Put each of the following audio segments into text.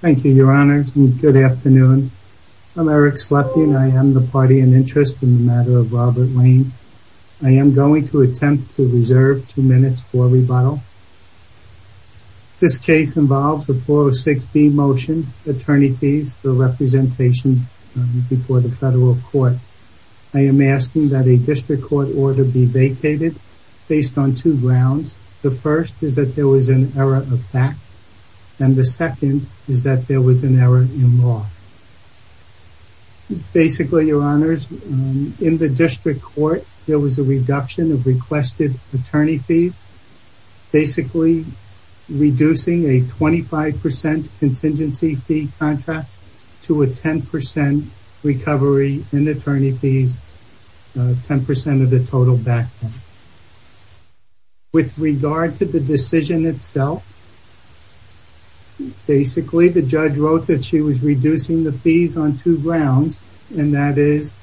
Thank you, your honors, and good afternoon. I'm Eric Slepian. I am the party in interest in the matter of Robert Lane. I am going to attempt to reserve two minutes for rebuttal. This case involves a 406B motion, attorney fees for representation before the federal court. I am asking that a district court order be vacated based on two grounds. The first is that there was an error of fact, and the second is that there was an error in law. Basically, your honors, in the district court, there was a reduction of requested attorney fees, basically reducing a 25% contingency fee contract to a 10% recovery in attorney fees, 10% of the total back payment. With regard to the decision itself, basically the judge wrote that she was reducing the fees on two grounds, and that is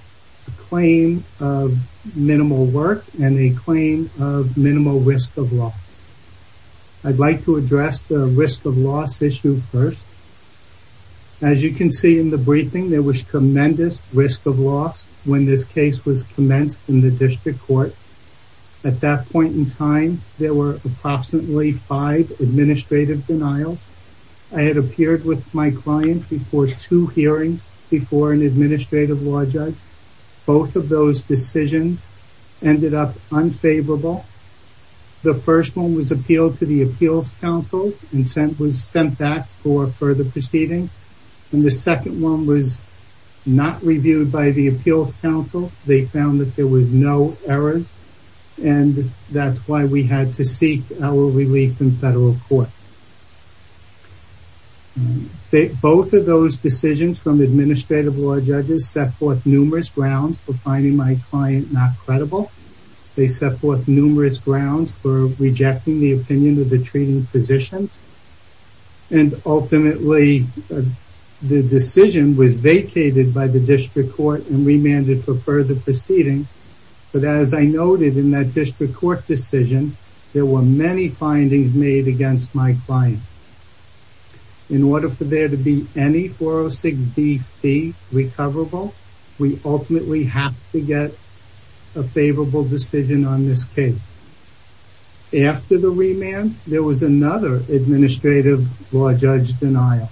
a claim of minimal work and a claim of minimal risk of loss. I'd like to address the risk of loss issue first. As you can see in the briefing, there was tremendous risk of loss when this case was commenced in the district court. At that point in time, there were approximately five administrative denials. I had appeared with my client before two hearings before an administrative law judge. Both of those decisions ended up unfavorable. The first one was appealed to the appeals council and was sent back for further proceedings. The second one was not reviewed by the appeals council. They found that there were no errors, and that's why we had to seek our relief in federal court. Both of those decisions from administrative law judges set forth numerous grounds for finding my client not credible. They set forth numerous grounds for rejecting the opinion of the treating physicians, and ultimately the decision was vacated by the district court and remanded for further proceedings. But as I noted in that district court decision, there were many findings made against my client. In order for there to be any 406B fee recoverable, we ultimately have to get a favorable decision on this case. After the remand, there was another administrative law judge denial.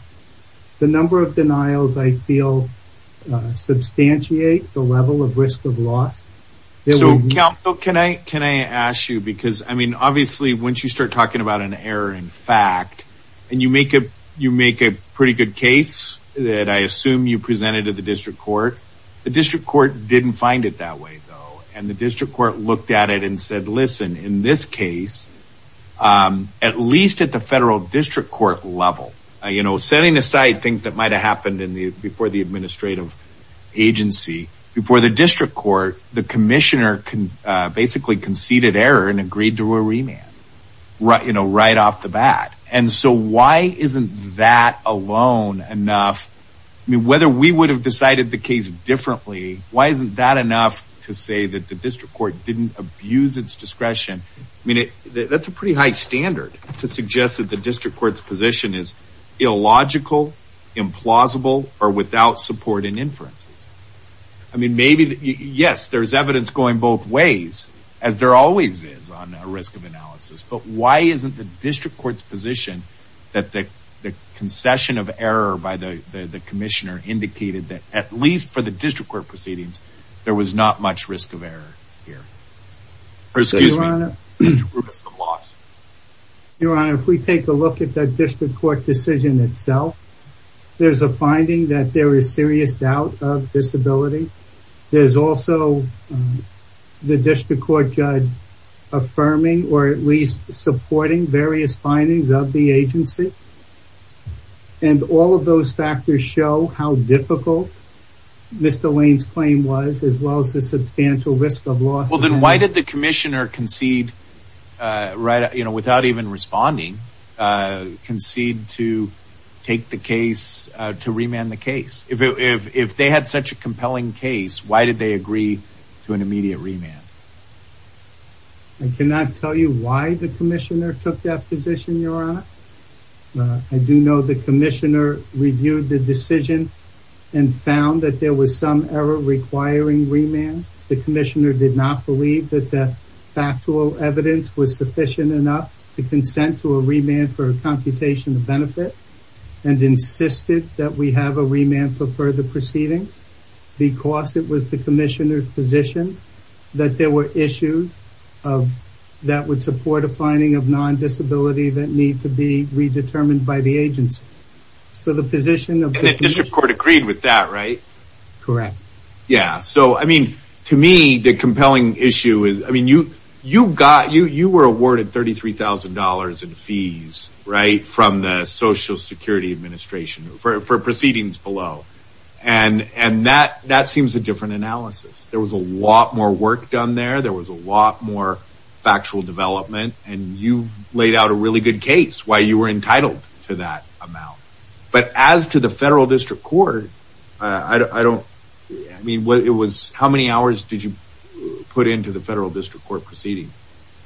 The number of denials, I feel, substantiate the level of risk of loss. So, counsel, can I ask you, because, I mean, obviously, once you start talking about an error in fact, and you make a pretty good case that I assume you presented to the district court, the district court didn't find it that way, though. And the district court looked at it and said, listen, in this case, at least at the federal district court level, setting aside things that might have happened before the administrative agency, before the district court, the commissioner basically conceded error and agreed to a remand right off the bat. And so why isn't that alone enough? I mean, whether we would have decided the case differently, why isn't that enough to say that the district court didn't abuse its discretion? I mean, that's a pretty high standard to suggest that the district court's position is illogical, implausible, or without support and inferences. I mean, maybe, yes, there's evidence going both ways, as there always is on risk of analysis, but why isn't the district court's position that the concession of error by the commissioner indicated that at least for the district court proceedings, there was not much risk of error here? Your Honor, if we take a look at the district court decision itself, there's a finding that there is serious doubt of disability. There's also the district court judge affirming or at least supporting various findings of the agency. And all of those factors show how difficult Mr. Lane's claim was, as well as the substantial risk of loss. Well, then why did the commissioner concede, without even responding, concede to take the case, to remand the case? If they had such a compelling case, why did they agree to an immediate remand? I cannot tell you why the commissioner took that position, Your Honor. I do know the commissioner reviewed the decision and found that there was some error requiring remand. The commissioner did not believe that the factual evidence was sufficient enough to consent to a remand for a computation of benefit and insisted that we have a remand for further proceedings. Because it was the commissioner's position that there were issues that would support a finding of non-disability that need to be redetermined by the agency. And the district court agreed with that, right? Correct. Yeah. So, I mean, to me, the compelling issue is, I mean, you got, you were awarded $33,000 in fees, right, from the Social Security Administration for proceedings below. And that seems a different analysis. There was a lot more work done there. There was a lot more factual development. And you've laid out a really good case, why you were entitled to that amount. But as to the federal district court, I don't, I mean, what it was, how many hours did you put into the federal district court proceedings?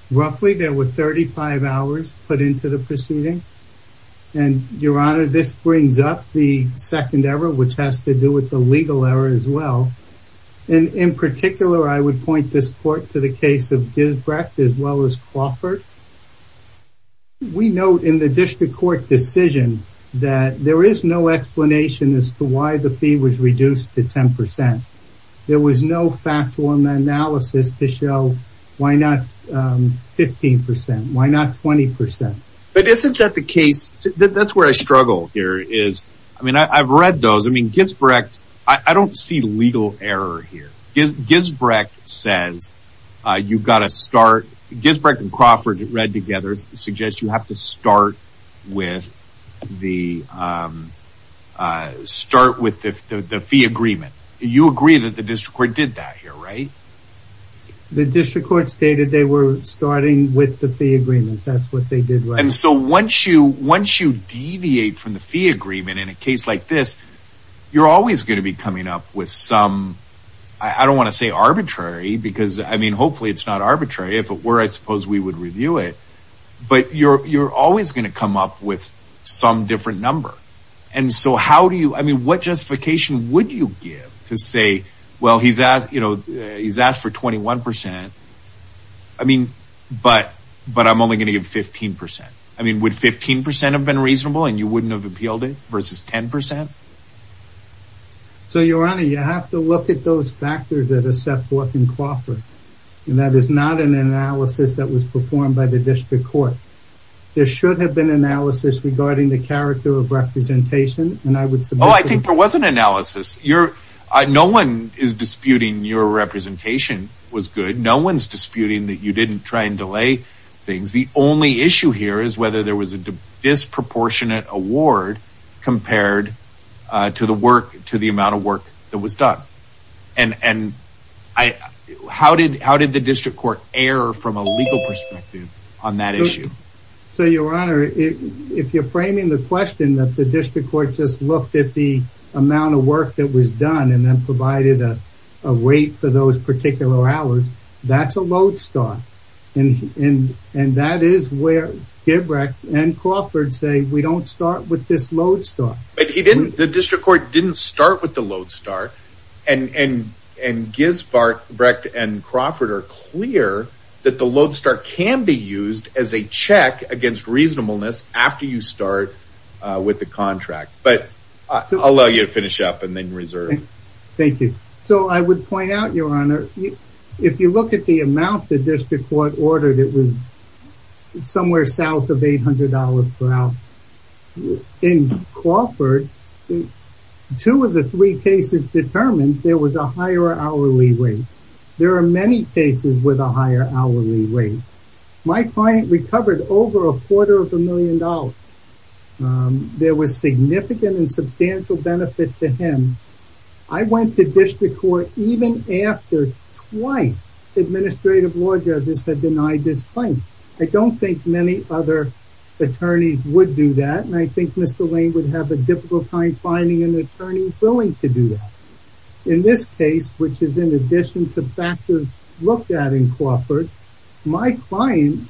Roughly, there were 35 hours put into the proceeding. And, Your Honor, this brings up the second error, which has to do with the legal error as well. And in particular, I would point this court to the case of Gisbrecht as well as Crawford. We note in the district court decision that there is no explanation as to why the fee was reduced to 10%. There was no factual analysis to show why not 15%, why not 20%. But isn't that the case, that's where I struggle here, is, I mean, I've read those, I mean, Gisbrecht, I don't see legal error here. Gisbrecht says you've got to start, Gisbrecht and Crawford read together suggest you have to start with the, start with the fee agreement. You agree that the district court did that here, right? The district court stated they were starting with the fee agreement. That's what they did, right? He's asked for 21%. I mean, but, but I'm only going to give 15%. I mean, would 15% have been reasonable and you wouldn't have appealed it versus 10%? So, Your Honor, you have to look at those factors that are set forth in Crawford. And that is not an analysis that was performed by the district court. There should have been analysis regarding the character of representation. Oh, I think there was an analysis. You're, no one is disputing your representation was good. No one's disputing that you didn't try and delay things. The only issue here is whether there was a disproportionate award compared to the work, to the amount of work that was done. And, and I, how did, how did the district court err from a legal perspective on that issue? So, Your Honor, if you're framing the question that the district court just looked at the amount of work that was done and then provided a, a wait for those particular hours, that's a load start. And, and, and that is where Gibrecht and Crawford say, we don't start with this load start. But he didn't, the district court didn't start with the load start and, and, and Gibrecht and Crawford are clear that the load start can be used as a check against reasonableness after you start with the contract, but I'll allow you to finish up and then reserve. Thank you. So I would point out, Your Honor, if you look at the amount, the district court ordered, it was somewhere south of $800 per hour. In Crawford, two of the three cases determined there was a higher hourly rate. There are many cases with a higher hourly rate. My client recovered over a quarter of a million dollars. There was significant and substantial benefit to him. I went to district court even after twice administrative law judges had denied this claim. I don't think many other attorneys would do that. And I think Mr. Lane would have a difficult time finding an attorney willing to do that. In this case, which is in addition to factors looked at in Crawford, my client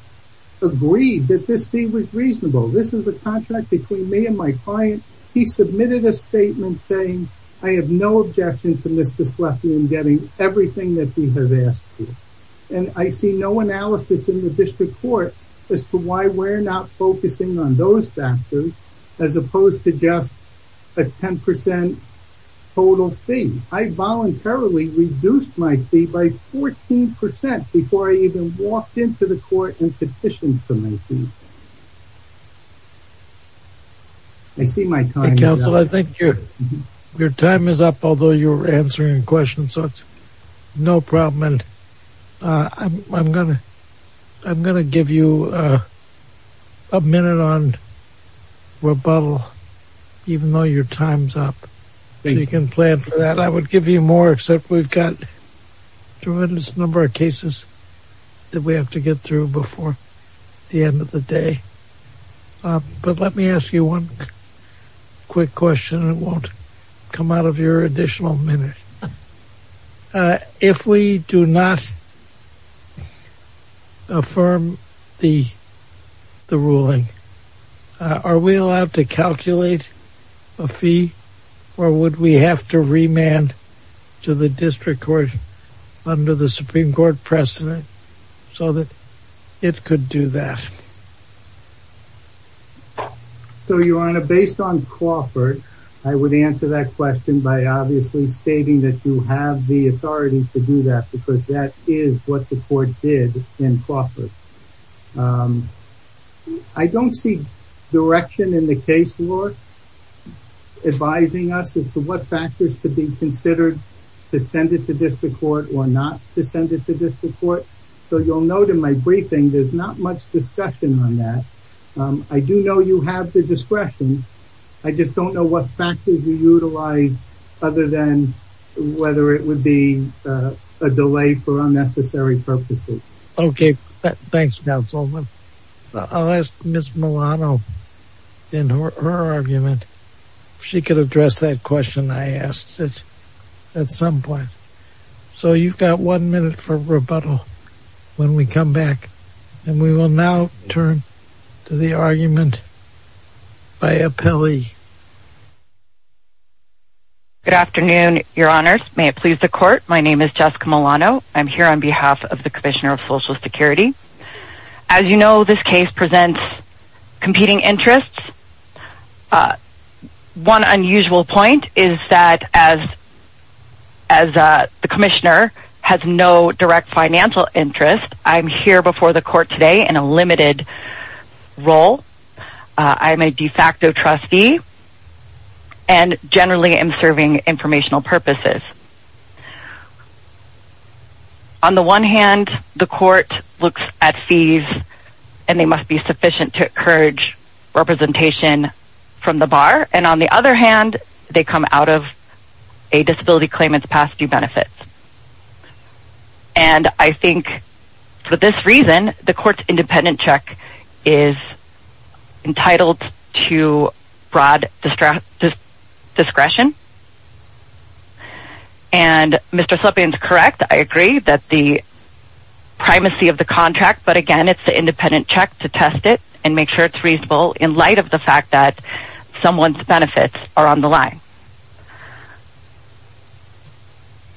agreed that this fee was reasonable. This is a contract between me and my client. He submitted a statement saying, I have no objection to Mr. Sleffian getting everything that he has asked for. And I see no analysis in the district court as to why we're not focusing on those factors as opposed to just a 10% total fee. I voluntarily reduced my fee by 14% before I even walked into the court and petitioned for my fee. I see my time is up. But let me ask you one quick question. It won't come out of your additional minute. If we do not affirm the ruling, are we allowed to calculate a fee or would we have to remand to the district court under the Supreme Court precedent so that it could do that? So, Your Honor, based on Crawford, I would answer that question by obviously stating that you have the authority to do that because that is what the court did in Crawford. I don't see direction in the case, Lord, advising us as to what factors to be considered to send it to district court or not to send it to district court. So you'll note in my briefing, there's not much discussion on that. I do know you have the discretion. I just don't know what factors you utilize other than whether it would be a delay for unnecessary purposes. Okay. Thanks, counsel. I'll ask Ms. Milano in her argument. If she could address that question, I asked it at some point. So you've got one minute for rebuttal when we come back and we will now turn to the argument by appellee. Good afternoon, Your Honors. May it please the court. My name is Jessica Milano. I'm here on behalf of the commissioner of Social Security. As you know, this case presents competing interests. One unusual point is that as the commissioner has no direct financial interest, I'm here before the court today in a limited role. I'm a de facto trustee and generally am serving informational purposes. On the one hand, the court looks at fees and they must be sufficient to encourage representation from the bar. And on the other hand, they come out of a disability claimant's past due benefits. And I think for this reason, the court's independent check is entitled to broad discretion. And Mr. Slepin is correct. I agree that the primacy of the contract, but again, it's the independent check to test it and make sure it's reasonable in light of the fact that someone's benefits are on the line.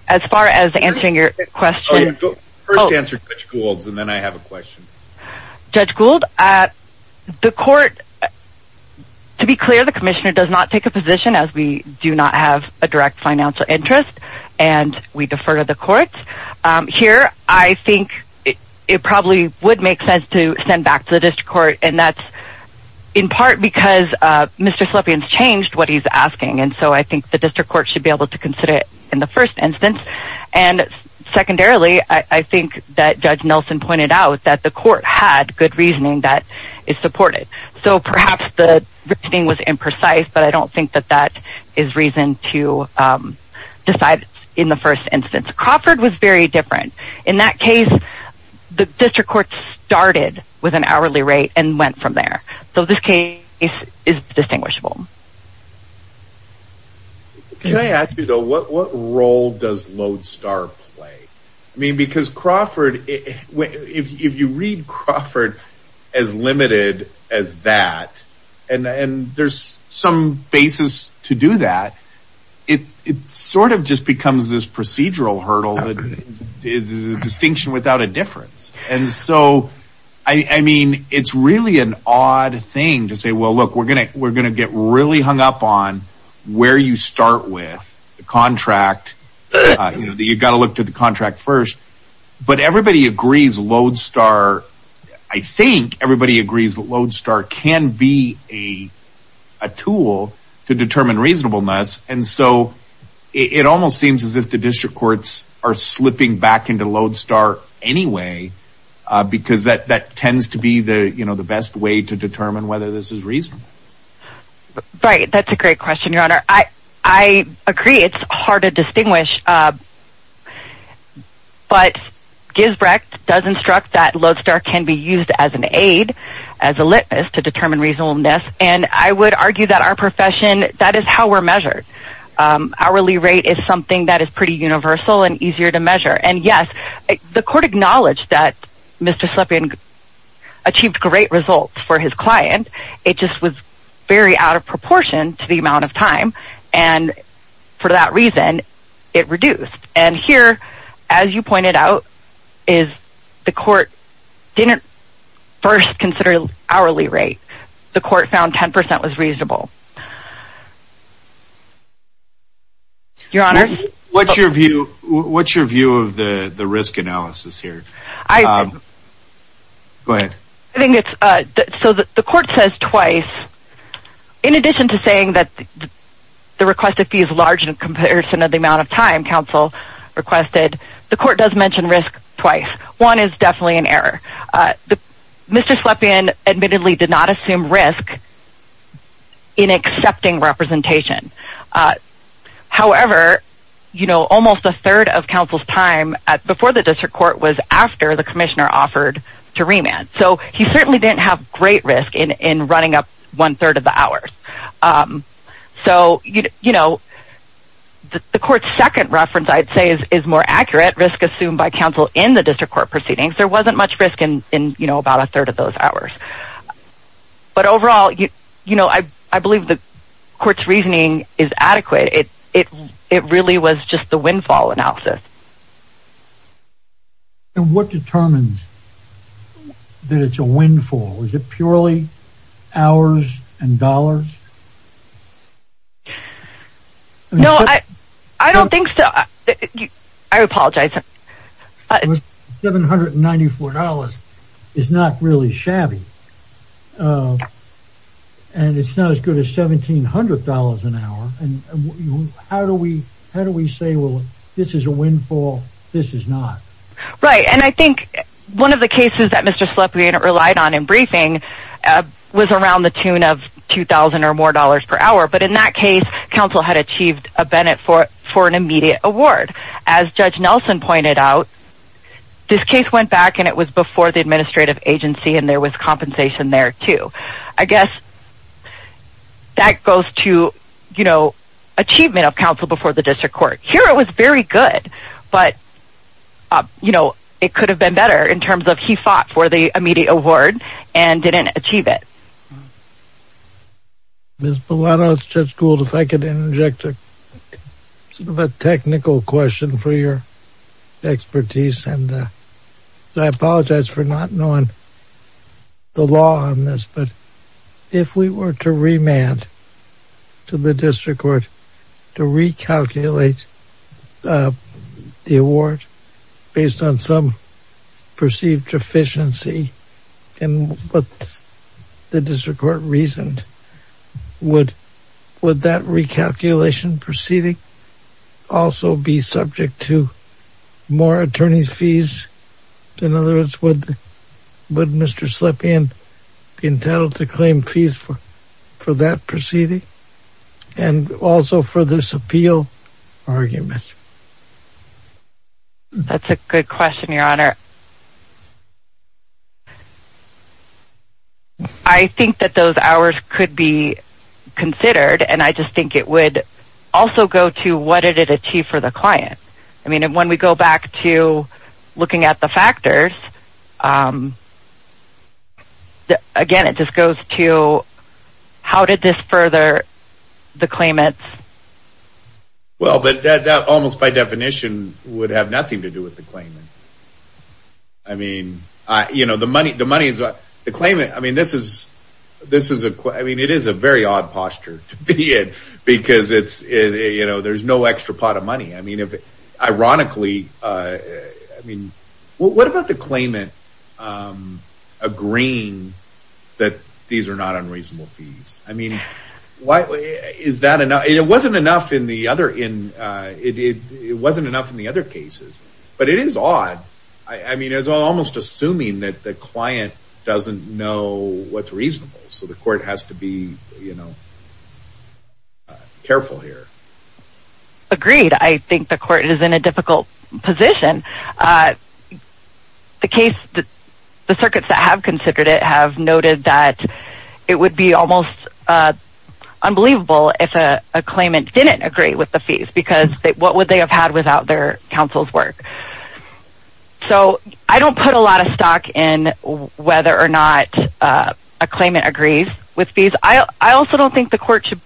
As far as answering your question. First answer to Judge Gould and then I have a question. Judge Gould, the court, to be clear, the commissioner does not take a position as we do not have a direct financial interest and we defer to the courts. Here, I think it probably would make sense to send back to the district court. And that's in part because Mr. Slepin's changed what he's asking. And so I think the district court should be able to consider it in the first instance. And secondarily, I think that Judge Nelson pointed out that the court had good reasoning that it supported. So perhaps the reasoning was imprecise, but I don't think that that is reason to decide in the first instance. It's very different. In that case, the district court started with an hourly rate and went from there. So this case is distinguishable. Can I ask you, though, what role does Lodestar play? I mean, because Crawford, if you read Crawford as limited as that and there's some basis to do that, it sort of just becomes this procedural hurdle. It is a distinction without a difference. And so, I mean, it's really an odd thing to say, well, look, we're going to we're going to get really hung up on where you start with the contract. You've got to look to the contract first. But everybody agrees Lodestar. I think everybody agrees that Lodestar can be a tool to determine reasonableness. And so it almost seems as if the district courts are slipping back into Lodestar anyway, because that tends to be the best way to determine whether this is reasonable. Right. That's a great question, Your Honor. I agree. It's hard to distinguish. But Gisbrecht does instruct that Lodestar can be used as an aid, as a litmus to determine reasonableness. And I would argue that our profession, that is how we're measured. Hourly rate is something that is pretty universal and easier to measure. And yes, the court acknowledged that Mr. Slepin achieved great results for his client. It just was very out of proportion to the amount of time. And for that reason, it reduced. And here, as you pointed out, is the court didn't first consider hourly rate. The court found 10 percent was reasonable. Your Honor? What's your view of the risk analysis here? I think it's, so the court says twice. In addition to saying that the requested fee is large in comparison to the amount of time counsel requested, the court does mention risk twice. One is definitely an error. Mr. Slepin admittedly did not assume risk in accepting representation. However, almost a third of counsel's time before the district court was after the commissioner offered to remand. So he certainly didn't have great risk in running up one third of the hours. So, you know, the court's second reference, I'd say, is more accurate risk assumed by counsel in the district court proceedings. There wasn't much risk in, you know, about a third of those hours. But overall, you know, I believe the court's reasoning is adequate. It really was just the windfall analysis. And what determines that it's a windfall? Is it purely hours and dollars? No, I don't think so. I apologize. $794 is not really shabby. And it's not as good as $1,700 an hour. And how do we say, well, this is a windfall, this is not? Right. And I think one of the cases that Mr. Slepin relied on in briefing was around the tune of $2,000 or more per hour. But in that case, counsel had achieved a Bennett for an immediate award. As Judge Nelson pointed out, this case went back and it was before the administrative agency and there was compensation there, too. I guess that goes to, you know, achievement of counsel before the district court. Here it was very good, but, you know, it could have been better in terms of he fought for the immediate award and didn't achieve it. Ms. Bellano, Judge Gould, if I could inject a sort of a technical question for your expertise. And I apologize for not knowing the law on this, but if we were to remand to the district court to recalculate the award based on some perceived deficiency. And what the district court reasoned, would that recalculation proceeding also be subject to more attorney's fees? In other words, would Mr. Slepin be entitled to claim fees for that proceeding and also for this appeal argument? That's a good question, Your Honor. I think that those hours could be considered and I just think it would also go to what did it achieve for the client. I mean, when we go back to looking at the factors, again, it just goes to how did this further the claimant's... Well, but that almost by definition would have nothing to do with the claimant. I mean, the claimant, I mean, it is a very odd posture to be in because there's no extra pot of money. Ironically, I mean, what about the claimant agreeing that these are not unreasonable fees? I mean, it wasn't enough in the other cases, but it is odd. I mean, it's almost assuming that the client doesn't know what's reasonable, so the court has to be, you know, careful here. Agreed. I think the court is in a difficult position. The case, the circuits that have considered it have noted that it would be almost unbelievable if a claimant didn't agree with the fees because what would they have had without their counsel's work? I don't put a lot of stock in whether or not a claimant agrees with fees. I also don't think the court should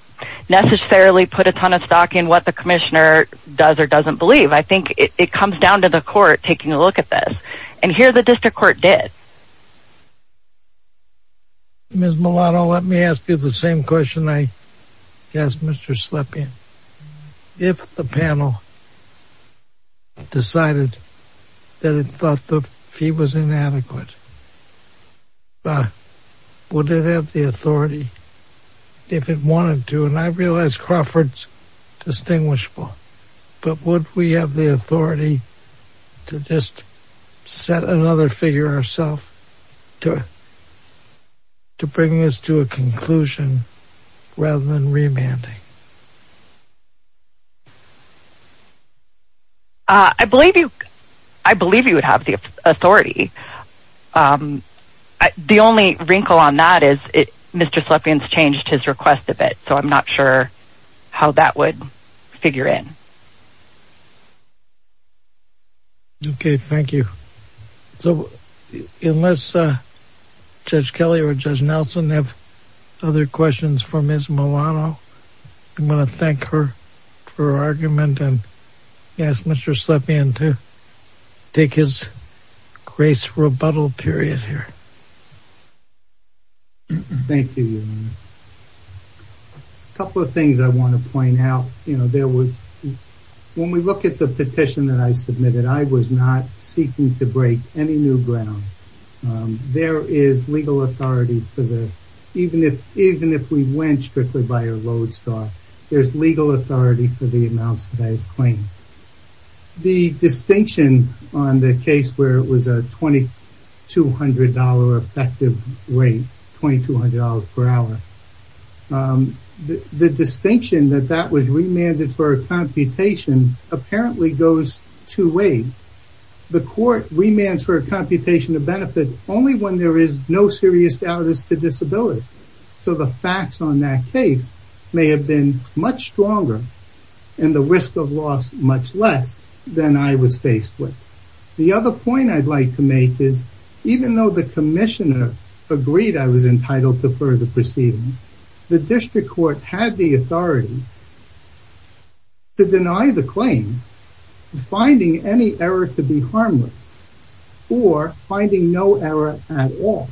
necessarily put a ton of stock in what the commissioner does or doesn't believe. I think it comes down to the court taking a look at this, and here the district court did. Ms. Milano, let me ask you the same question I asked Mr. Slepian. If the panel decided that it thought the fee was inadequate, would it have the authority, if it wanted to, and I realize Crawford's distinguishable, but would we have the authority to just set another figure ourself to bring this to a conclusion rather than remanding? I believe you would have the authority. The only wrinkle on that is Mr. Slepian's changed his request a bit, so I'm not sure how that would figure in. Okay, thank you. Unless Judge Kelly or Judge Nelson have other questions for Ms. Milano, I'm going to thank her for her argument. I'm going to ask Mr. Slepian to take his grace rebuttal period here. Thank you, Your Honor. A couple of things I want to point out. When we look at the petition that I submitted, I was not seeking to break any new ground. There is legal authority, even if we went strictly by a road star, there's legal authority for the amounts that I've claimed. The distinction on the case where it was a $2,200 effective rate, $2,200 per hour, the distinction that that was remanded for a computation apparently goes two ways. One, the court remands for a computation of benefit only when there is no serious doubt as to disability. So the facts on that case may have been much stronger and the risk of loss much less than I was faced with. The other point I'd like to make is even though the commissioner agreed I was entitled to further proceedings, the district court had the authority to deny the claim, finding any error to be harmless or finding no error at all.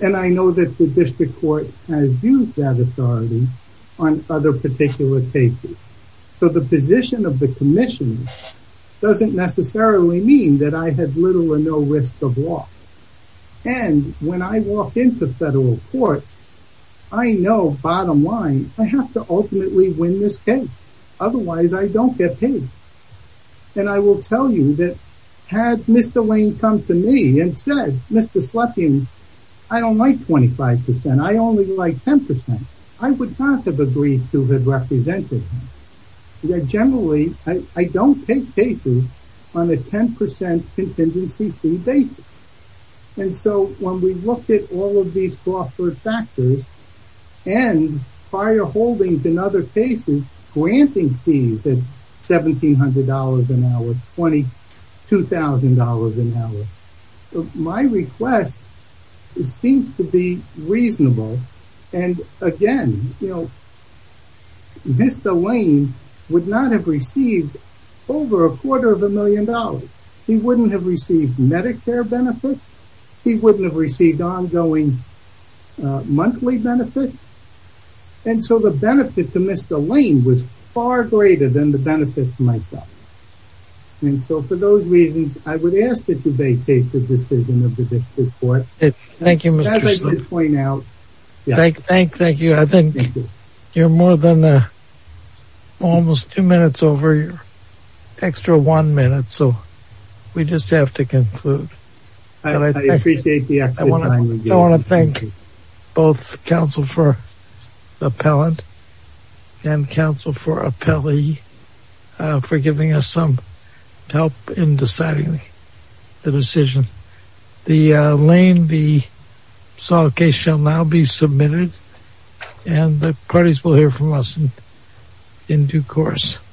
And I know that the district court has used that authority on other particular cases. So the position of the commission doesn't necessarily mean that I had little or no risk of loss. And when I walk into federal court, I know bottom line, I have to ultimately win this case. Otherwise, I don't get paid. And I will tell you that had Mr. Lane come to me and said, Mr. Slutkin, I don't like 25%, I only like 10%, I would not have agreed to the representation. Generally, I don't take cases on a 10% contingency fee basis. And so when we look at all of these cost factors and prior holdings in other cases, granting fees at $1,700 an hour, $22,000 an hour, my request seems to be reasonable. And again, Mr. Lane would not have received over a quarter of a million dollars. He wouldn't have received Medicare benefits. He wouldn't have received ongoing monthly benefits. And so the benefit to Mr. Lane was far greater than the benefit to myself. And so for those reasons, I would ask that you vacate the decision of the district court. Thank you, Mr. Slutkin. Thank you. I think you're more than almost two minutes over your extra one minute. So we just have to conclude. I appreciate the opportunity. I want to thank both counsel for appellant and counsel for appellee for giving us some help in deciding the decision. The Lane v. Saw case shall now be submitted and the parties will hear from us in due course.